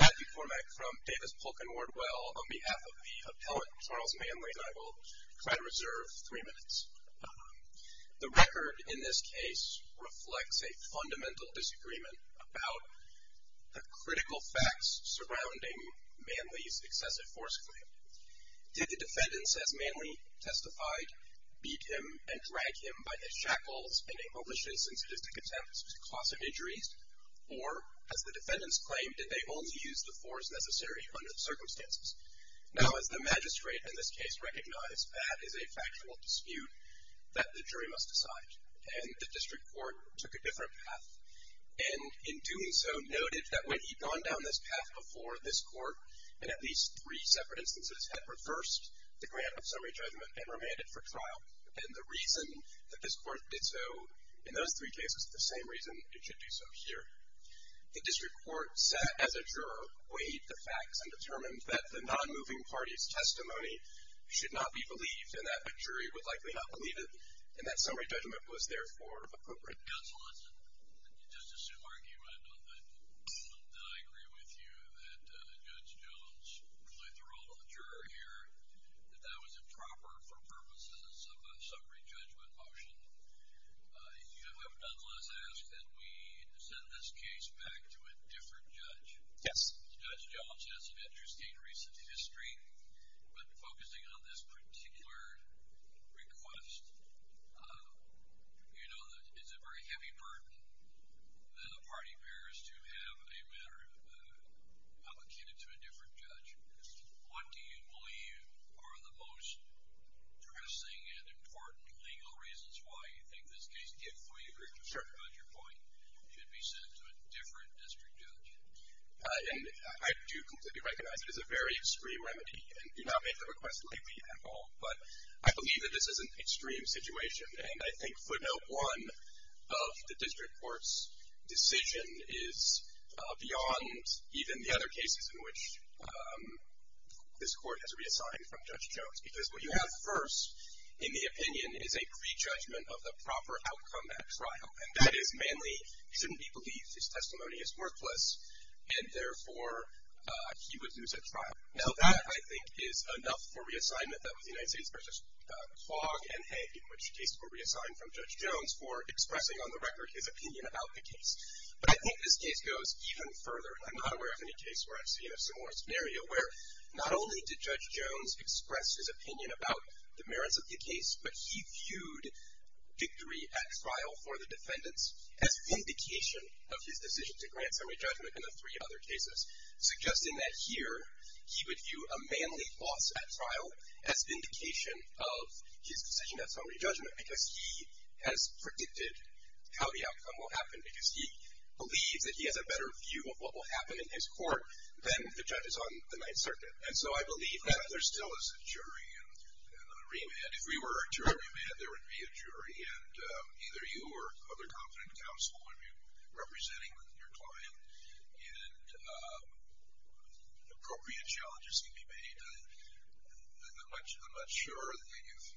Matthew Formak from Davis Polk & Wardwell. On behalf of the appellate Charles Manley, I will try to reserve three minutes. The record in this case reflects a fundamental disagreement about the critical facts surrounding Manley's excessive force claim. Did the defendants, as Manley testified, beat him and drag him by the shackles in a malicious and sadistic attempt to cause him injuries? Or, as the defendants claimed, did they only use the force necessary under the circumstances? Now, as the magistrate in this case recognized, that is a factual dispute that the jury must decide. And the district court took a different path and, in doing so, noted that when he'd gone down this path before this court, in at least three separate instances, had reversed the grant of summary judgment and remanded for trial. And the reason that this court did so in those three cases is the same reason it should do so here. The district court, set as a juror, weighed the facts and determined that the non-moving party's testimony should not be believed and that a jury would likely not believe it, and that summary judgment was, therefore, appropriate. Counsel, let's just assume, Mark, you would have known that I agree with you that Judge Jones played the role of the juror here, that that was improper for purposes of a summary judgment motion. You have nonetheless asked that we send this case back to a different judge. Yes. Judge Jones has an interesting recent history, but focusing on this particular request, you know that it's a very heavy burden on the party bearers to have a matter publicated to a different judge. What do you believe are the most pressing and important legal reasons why you think this case, if we agree with you about your point, should be sent to a different district judge? I do completely recognize it is a very extreme remedy, and do not make the request lightly at all. But I believe that this is an extreme situation, and I think footnote one of the district court's decision is beyond even the other cases in which this court has reassigned from Judge Jones. Because what you have first in the opinion is a prejudgment of the proper outcome at trial, and that is mainly shouldn't be believed. His testimony is worthless, and, therefore, he would lose at trial. Now, that, I think, is enough for reassignment. That was the United States versus Klogg and Hague, in which cases were reassigned from Judge Jones for expressing on the record his opinion about the case. But I think this case goes even further. I'm not aware of any case where I've seen a similar scenario, where not only did Judge Jones express his opinion about the merits of the case, but he viewed victory at trial for the defendants as vindication of his decision to grant summary judgment in the three other cases, suggesting that here he would view a manly loss at trial as vindication of his decision at summary judgment, because he has predicted how the outcome will happen, because he believes that he has a better view of what will happen in his court than the judges on the Ninth Circuit. And so I believe that there still is a jury and a remand. If we were a jury remand, there would be a jury, and either you or other competent counsel would be representing your client. And appropriate challenges can be made. I'm not sure that you've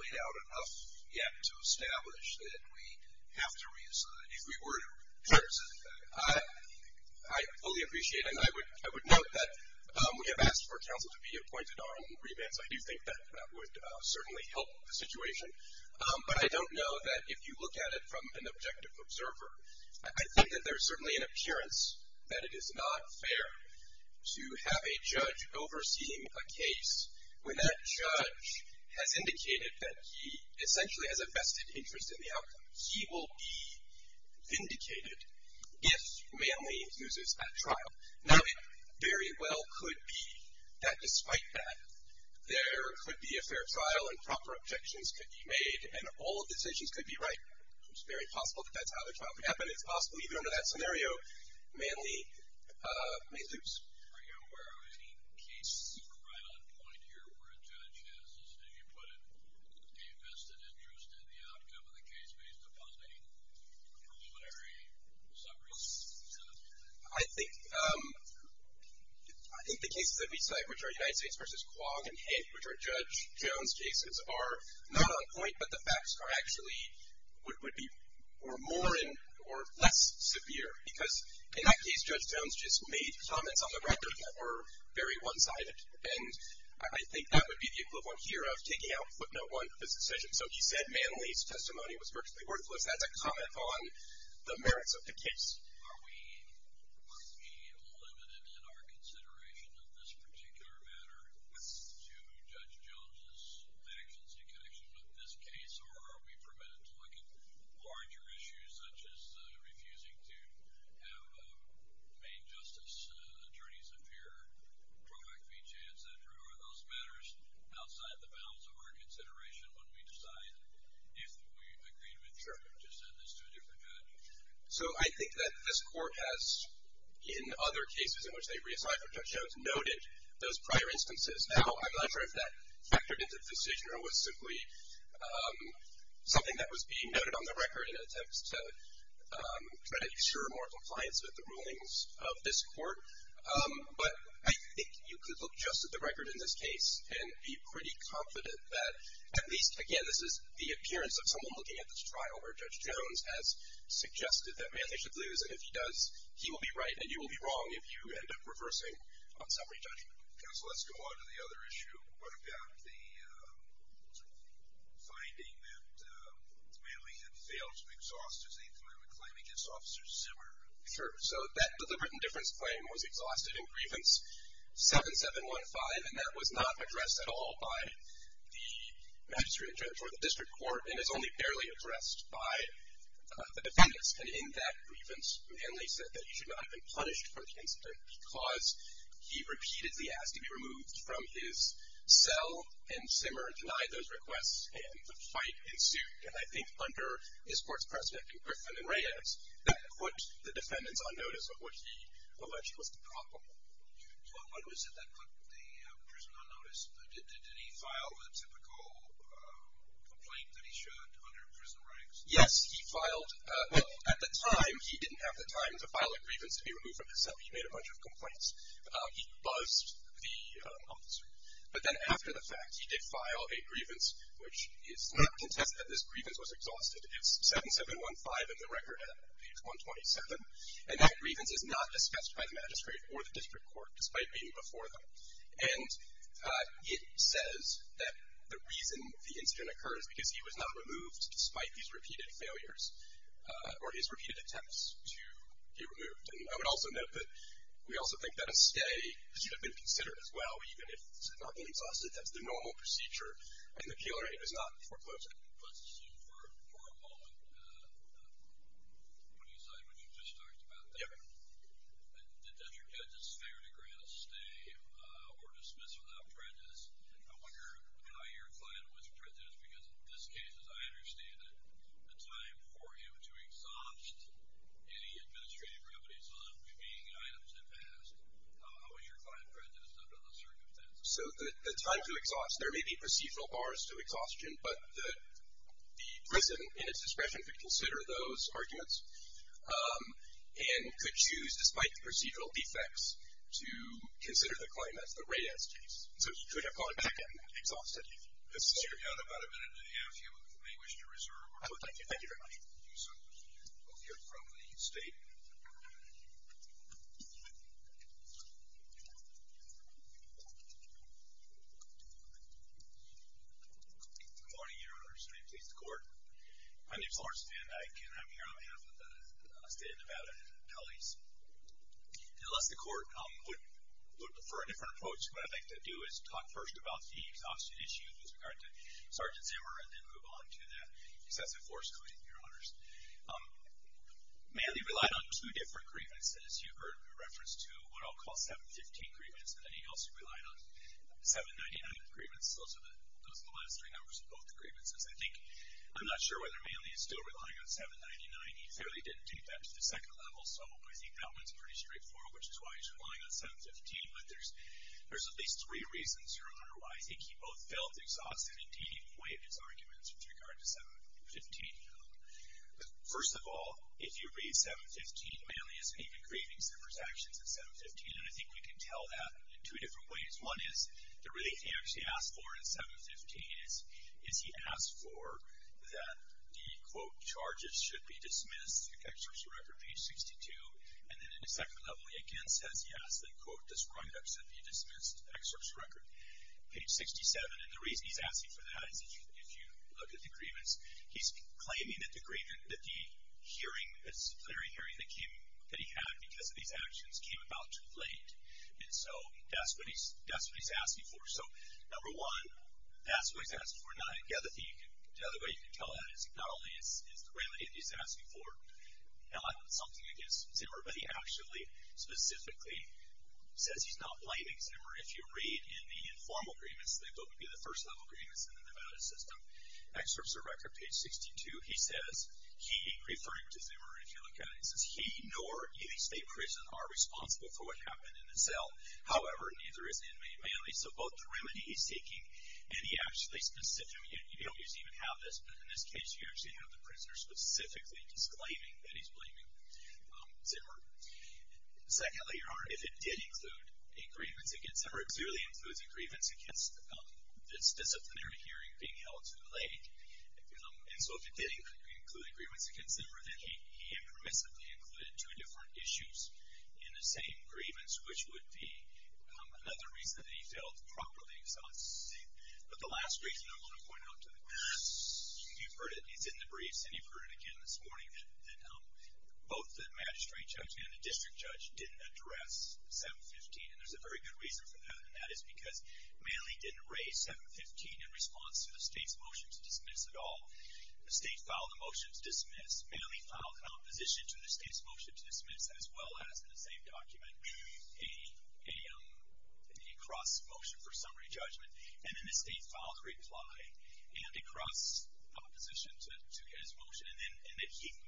laid out enough yet to establish that we have to reassign. If we were to reassign. I fully appreciate it. And I would note that we have asked for counsel to be appointed on remands. I do think that that would certainly help the situation. But I don't know that if you look at it from an objective observer, I think that there's certainly an appearance that it is not fair to have a judge overseeing a case where that judge has indicated that he essentially has a vested interest in the outcome. He will be vindicated if manly loses at trial. Now, it very well could be that despite that, there could be a fair trial, and proper objections could be made, and all decisions could be right. It's very possible that that's how the trial could happen. It's possible even under that scenario, manly may lose. Are you aware of any case right on point here where a judge has, as you put it, a vested interest in the outcome of the case based upon any preliminary summaries? I think the cases that we cite, which are United States v. Quagg and Hank, which are Judge Jones' cases, are not on point. But the facts are actually more or less severe, because in that case Judge Jones just made comments on the record that were very one-sided. And I think that would be the equivalent here of taking out footnote one of his decision. So he said manly's testimony was virtually worthless. That's a comment on the merits of the case. Are we limited in our consideration of this particular matter to Judge Jones' actions in connection with this case, or are we permitted to look at larger issues, such as refusing to have a main justice attorney's appear, drawback fee chain, et cetera? Are those matters outside the bounds of our consideration when we decide, if we agreed with Judge Jones, to send this to a different judge? So I think that this Court has, in other cases in which they reassign from Judge Jones, noted those prior instances. Now, I'm not sure if that factored into the decision or was simply something that was being noted on the record in an attempt to try to ensure more compliance with the rulings of this Court. But I think you could look just at the record in this case and be pretty confident that at least, again, this is the appearance of someone looking at this trial where Judge Jones has suggested that manly should lose, and if he does, he will be right and you will be wrong if you end up reversing on summary judgment. Counsel, let's go on to the other issue. What about the finding that Manley had failed to exhaust his eighth amendment claim against Officer Zimmer? Sure. So that deliberate indifference claim was exhausted in Grievance 7715, and that was not addressed at all by the magistrate judge or the district court and is only barely addressed by the defendants. And in that grievance, Manley said that he should not have been punished for the incident because he repeatedly asked to be removed from his cell, and Zimmer denied those requests, and the fight ensued. And I think under this Court's prospect of Griffin and Reyes, that put the defendants on notice of what he alleged was the problem. What was it that put the prisoner on notice? Did he file a typical complaint that he should under prison ranks? Yes, he filed. Well, at the time, he didn't have the time to file a grievance to be removed from his cell. He made a bunch of complaints. He buzzed the officer. But then after the fact, he did file a grievance, which is not contested that this grievance was exhausted. It's 7715 in the record at page 127, and that grievance is not discussed by the magistrate or the district court, despite being before them. And it says that the reason the incident occurs, because he was not removed despite these repeated failures or his repeated attempts to be removed. And I would also note that we also think that a stay should have been considered as well, even if it's not been exhausted. That's the normal procedure in the killer. It is not foreclosed. Let's assume for a moment, putting aside what you just talked about, that the district judge is fair to grant a stay or dismiss without prejudice. I wonder how your client was prejudiced, because in this case, as I understand it, the time for him to exhaust any administrative remedies on remaining items had passed. How was your client prejudiced under those circumstances? So the time to exhaust, there may be procedural bars to exhaustion, but the prison in its discretion could consider those arguments and could choose, despite the procedural defects, to consider the client. That's the Reyes case. So should we call him back and exhaust him? Yes, sir. You have about a minute and a half. You may wish to reserve. Thank you. Thank you very much. We'll hear from the state. Good morning, Your Honors. May it please the Court. My name is Lawrence Van Dyke, and I'm here on behalf of the state of Nevada and colleagues. Unless the Court would prefer a different approach, what I'd like to do is talk first about the exhaustion issue with regard to Sergeant Zimmer and then move on to that excessive force claim, Your Honors. Manley relied on two different grievances. You've heard reference to what I'll call 715 grievance, and then he also relied on 799 grievance. Those are the last three numbers of both grievances. I'm not sure whether Manley is still relying on 799. He fairly didn't take that to the second level, so I think that one's pretty straightforward, which is why he's relying on 715. But there's at least three reasons, Your Honor, why I think he both felt exhausted and didn't even weigh his arguments with regard to 715. First of all, if you read 715, Manley isn't even grieving Zimmer's actions in 715, and I think we can tell that in two different ways. One is the relief he actually asked for in 715 is he asked for that the, quote, charges should be dismissed. It actually was a record, page 62. And then in the second level, he again says, yes, quote, this rundown should be dismissed, excerpt's record, page 67. And the reason he's asking for that is if you look at the grievance, he's claiming that the hearing, disciplinary hearing that he had because of these actions came about too late. And so that's what he's asking for. So, number one, that's what he's asking for. The other way you can tell that is not only is the remedy that he's asking for. Now, that's something against Zimmer, but he actually specifically says he's not blaming Zimmer. If you read in the informal grievance, they both would be the first level grievance in the Nevada system. Excerpt's a record, page 62. He says, he, referring to Zimmer, if you look at it, he says he nor any state prison are responsible for what happened in the cell. However, neither is in Manley. So both the remedy he's taking and he actually specifically, you don't usually even have this, but in this case, you actually have the prisoner specifically disclaiming that he's blaming Zimmer. Secondly, your honor, if it did include a grievance against Zimmer, it clearly includes a grievance against this disciplinary hearing being held too late. And so if it did include a grievance against Zimmer, then he impermissibly included two different issues in the same grievance, which would be another reason that he failed properly. But the last reason I want to point out to the court, you've heard it, it's in the briefs, and you've heard it again this morning, that both the magistrate judge and the district judge didn't address 715. And there's a very good reason for that. And that is because Manley didn't raise 715 in response to the state's motion to dismiss at all. The state filed a motion to dismiss. Manley filed an opposition to the state's motion to dismiss, as well as in the same document, a cross motion for summary judgment. And then the state filed a reply and a cross opposition to his motion. And then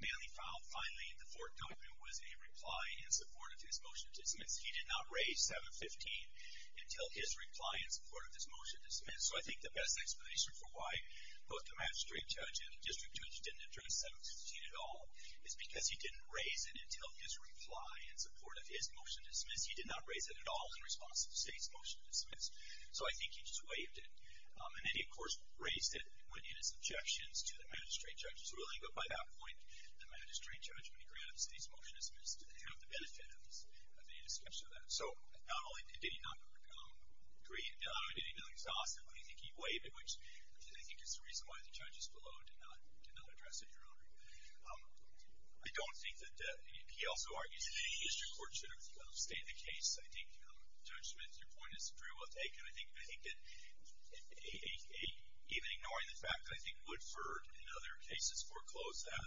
Manley filed, finally, the fourth document was a reply in support of his motion to dismiss. He did not raise 715 until his reply in support of his motion to dismiss. So I think the best explanation for why both the magistrate judge and the district judge didn't address 715 at all is because he didn't raise it until his reply in support of his motion to dismiss. He did not raise it at all in response to the state's motion to dismiss. So I think he just waived it. And then he, of course, raised it in his objections to the magistrate judge's ruling. But by that point, the magistrate judge, when he granted the state's motion to dismiss, didn't have the benefit of any discussion of that. So not only did he not agree, not only did he not exhaust it, but I think he waived it, which I think is the reason why the judges below did not address it, Your Honor. I don't think that he also argues that any district court should have stayed the case. I think, Judge Smith, your point is very well taken. I think that even ignoring the fact that I think Woodford, in other cases, foreclosed that.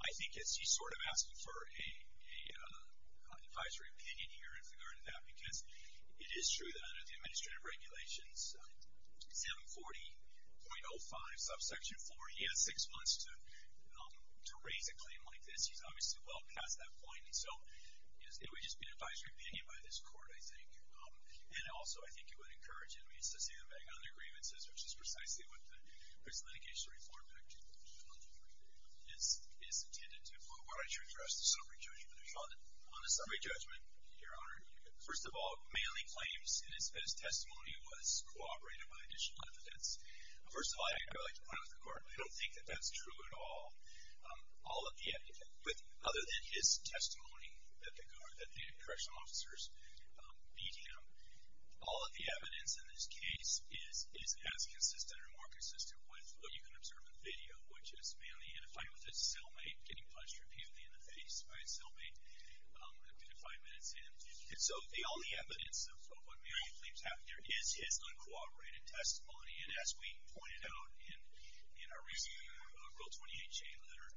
I think he's sort of asking for an advisory opinion here in regard to that because it is true that under the administrative regulations, it's M40.05, subsection four. He has six months to raise a claim like this. He's obviously well past that point. And so it would just be an advisory opinion by this court, I think. And also, I think it would encourage inmates to stand back on their grievances, which is precisely what the prison litigation reform act is intended to do. Why don't you address the summary judgment? On the summary judgment, Your Honor, first of all, Manley claims that his testimony was corroborated by additional evidence. First of all, I'd like to point out to the court, I don't think that that's true at all. Other than his testimony that the correctional officers beat him, all of the evidence in this case is as consistent or more consistent with what you can observe in the video, which is Manley in a fight with his cellmate, getting punched repeatedly in the face by his cellmate. I'm due to five minutes in. And so all the evidence of what Manley claims happened here is his uncooperated testimony. And as we pointed out in our recent Rule 28 chain letter,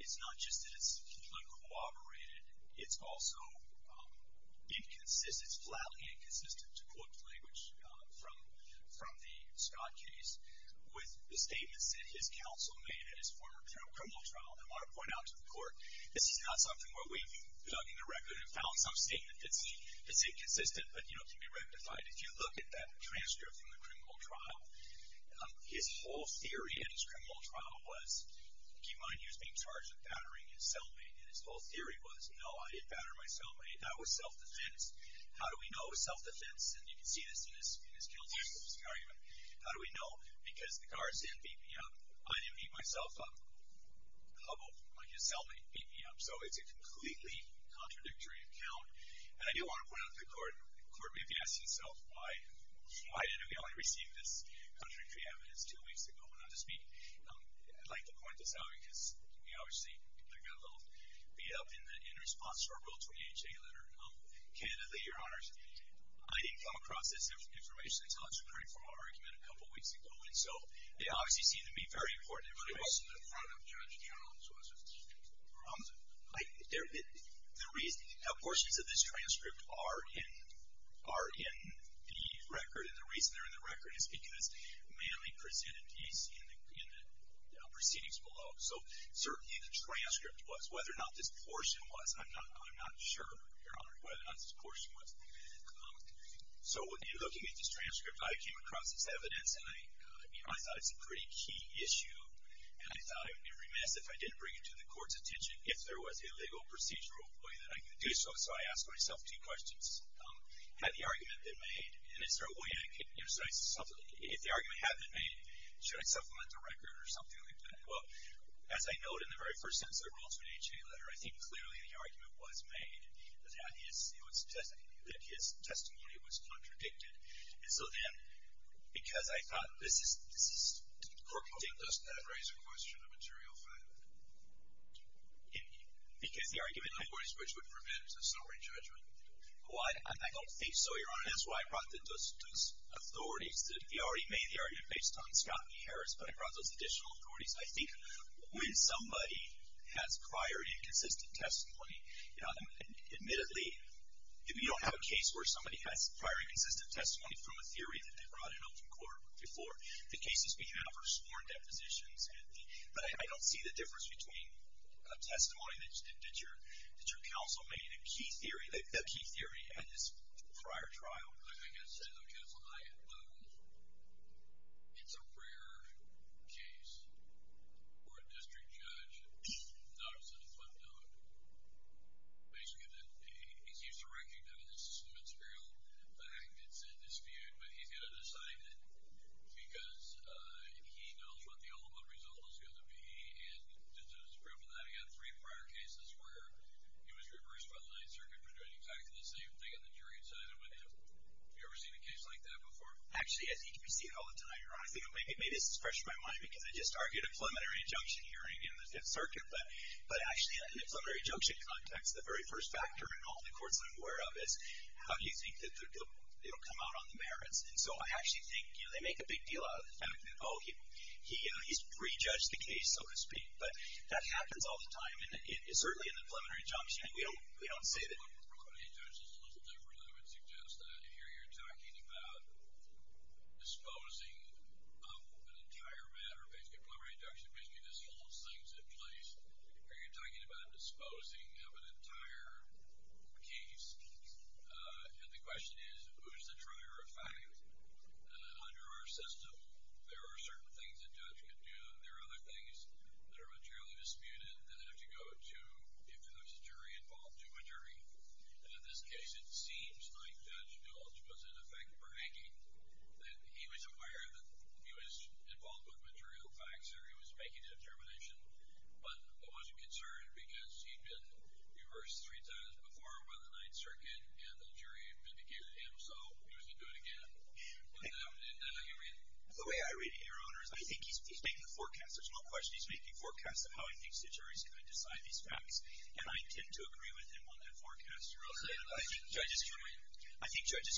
it's not just that it's uncooperated. It's also flatly inconsistent, to quote the language from the Scott case, with the statements that his counsel made at his former criminal trial. And I want to point out to the court, this is not something where we've dug in the record and found some statement. It's inconsistent, but, you know, can be rectified. If you look at that transcript from the criminal trial, his whole theory at his criminal trial was, keep in mind, he was being charged with battering his cellmate. And his whole theory was, no, I didn't batter my cellmate. That was self-defense. How do we know it was self-defense? And you can see this in his guilt-fixing argument. How do we know? Because the guards didn't beat me up. I didn't beat myself up. His cellmate beat me up. So it's a completely contradictory account. And I do want to point out to the court, the court may be asking itself, why didn't we only receive this contradictory evidence two weeks ago? And I'll just be, I'd like to point this out, because we obviously got a little beat up in response to our Rule 28 chain letter. Candidly, Your Honors, I didn't come across this information until it's recurring from our argument a couple weeks ago. And so they obviously seem to be very important information to us in front of Judge Jones, wasn't it? The reason, portions of this transcript are in the record, and the reason they're in the record is because Manley presented these in the proceedings below. So certainly the transcript was, whether or not this portion was, I'm not sure, Your Honor, whether or not this portion was. So in looking at this transcript, I came across this evidence, and I thought it's a pretty key issue. And I thought it would be remiss if I didn't bring it to the court's attention if there was a legal procedural way that I could do so. So I asked myself two questions. Had the argument been made? And is there a way I could, you know, if the argument had been made, should I supplement the record or something like that? Well, as I note in the very first sentence of the Rule 28 chain letter, I think clearly the argument was made that his testimony was contradicted. And so then, because I thought this is contradicted. But doesn't that raise a question of material fact? Because the argument I think. In other words, which would prevent a summary judgment. Well, I don't think so, Your Honor. That's why I brought those authorities. We already made the argument based on Scott and Harris, but I brought those additional authorities. I think when somebody has prior inconsistent testimony, you know, they have testimony from a theory that they brought in open court before. The cases we have are sworn depositions. But I don't see the difference between a testimony that your counsel made and a key theory, a key theory at his prior trial. I guess counsel and I, it's a rare case for a district judge, and obviously the court knows basically that he's used to recognizing the material fact that's in dispute, but he's going to decide it because he knows what the ultimate result is going to be. And just as a proof of that, he had three prior cases where he was reversed by the Ninth Circuit for doing exactly the same thing that the jury decided with him. Have you ever seen a case like that before? Actually, I think we see it all the time, Your Honor. I think maybe this is fresh in my mind, because I just argued a preliminary injunction hearing in the Fifth Circuit. But actually, in a preliminary injunction context, the very first factor in all the courts I'm aware of is, how do you think that they'll come out on the merits? And so I actually think they make a big deal out of the fact that, oh, he's prejudged the case, so to speak. But that happens all the time, and certainly in a preliminary injunction. We don't say that. A preliminary injunction is a little different, I would suggest. Here you're talking about disposing of an entire matter. Basically, a preliminary injunction basically just holds things in place. Here you're talking about disposing of an entire case. And the question is, who's the trier of fact? Under our system, there are certain things a judge can do, and there are other things that are materially disputed that have to go to if there's a jury involved to a jury. And in this case, it seems like Judge Gulch was, in effect, bragging that he was aware that he was involved with material facts or he was making a determination but wasn't concerned because he'd been reversed three times before by the Ninth Circuit and the jury vindicated him, so he was going to do it again. But that's how you read it. The way I read it, Your Honor, is I think he's making a forecast. There's no question he's making a forecast of how he thinks the jury is going to decide these facts, and I intend to agree with him on that forecast. You're okay with that? I think judges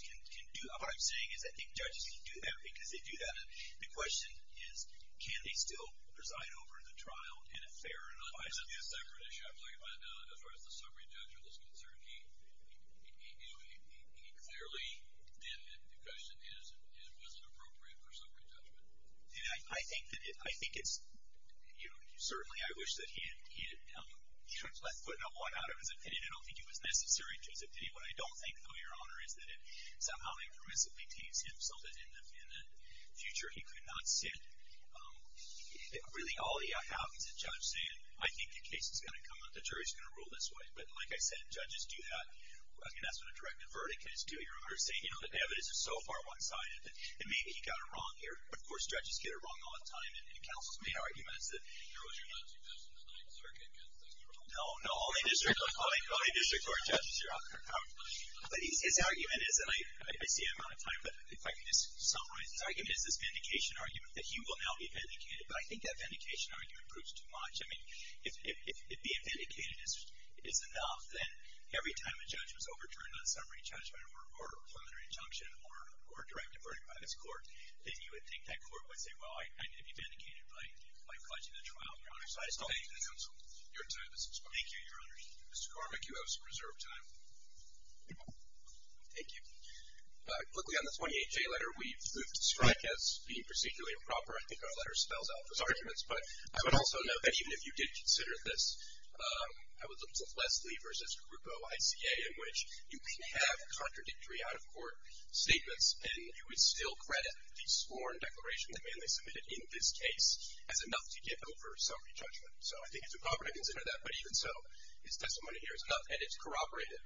can do that. What I'm saying is I think judges can do that because they do that. The question is, can they still preside over the trial in a fair and unbiased way? That's a separate issue, I believe, but as far as the summary judgment is concerned, he clearly did it. The question is, was it appropriate for summary judgment? I think it's certainly I wish that he had put a 1 out of his opinion. I don't think it was necessary to his opinion. What I don't think, though, Your Honor, is that it somehow impermissibly teems him so that in the future he could not sit. Really, all you have is a judge saying, I think the case is going to come up, the jury is going to rule this way. But, like I said, judges do that. I mean, that's what a directive verdict is, too, Your Honor, saying, you know, the evidence is so far one-sided that maybe he got it wrong here. Of course, judges get it wrong all the time, and counsel's main argument is that there was a heat. You're not suggesting the Ninth Circuit gets that wrong? No, no, only district court judges are out there. But his argument is, and I see I'm out of time, but if I could just summarize his argument, is this vandication argument that he will now be vandicated. But I think that vandication argument proves too much. I mean, if being vandicated is enough, then every time a judge was overturned on summary judgment or preliminary injunction or directive verdict by this Court, then you would think that Court would say, well, I need to be vandicated by pledging the trial, Your Honor. So I just don't think that's helpful. Your time has expired. Thank you, Your Honor. Mr. Cormack, you have some reserve time. Thank you. Quickly on the 28J letter, we've moved to Streich as being procedurally improper. I think our letter spells out those arguments. But I would also note that even if you did consider this, I would look to Leslie v. Grupo, ICA, in which you can have contradictory out-of-court statements, and you would still credit the sworn declaration the man they submitted in this case as enough to get over summary judgment. So I think it's improper to consider that, but even so, his testimony here is enough, and it's corroborated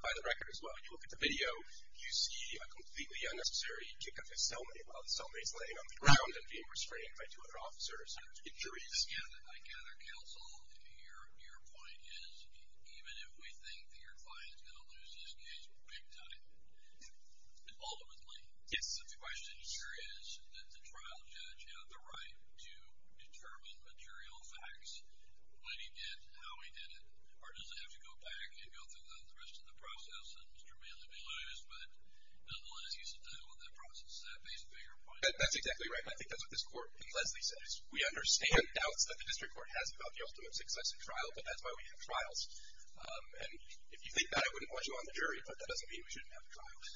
by the record as well. If you look at the video, you see a completely unnecessary kick up his cellmate while the cellmate is laying on the ground and being restrained by two other officers and juries. I gather, counsel, your point is even if we think that your client is going to lose this case big time, ultimately, the question here is that the trial judge had the right to determine material facts when he did, how he did it, or does it have to go back and go through the rest of the process and Mr. Manley be losed? But no one is used to dealing with that process. Is that based on your point? That's exactly right, and I think that's what this Court, like Leslie said, is we understand doubts that the district court has about the ultimate success in trial, but that's why we have trials. And if you think that, I wouldn't want you on the jury, but that doesn't mean we shouldn't have trials.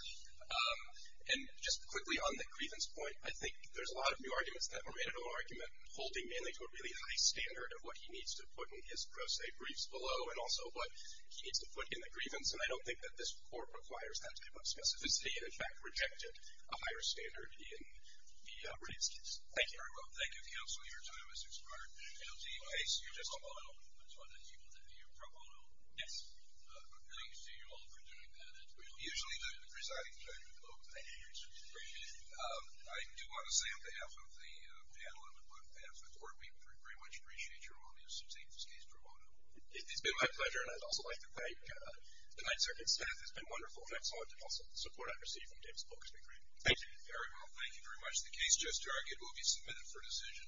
And just quickly on the grievance point, I think there's a lot of new arguments that were made in the argument holding Mr. Manley to a really high standard of what he needs to put in his pro se briefs below and also what he needs to put in the grievance. And I don't think that this Court requires that type of specificity and, in fact, rejected a higher standard in the Brady's case. Thank you. Thank you very much. Thank you, counsel. Your time is expired. I see you just a moment. Which one is it? Your pro bono? Yes. Thank you to you all for doing that. Usually the presiding judge votes. Thank you. I do want to say on behalf of the panel and on behalf of the court, we very much appreciate your willingness to take this case pro bono. It's been my pleasure. And I'd also like to thank the Ninth Circuit staff. It's been wonderful. And I also want to thank the support I've received from David Spilka. It's been great. Thank you. Very well. Thank you very much. The case just argued will be submitted for decision.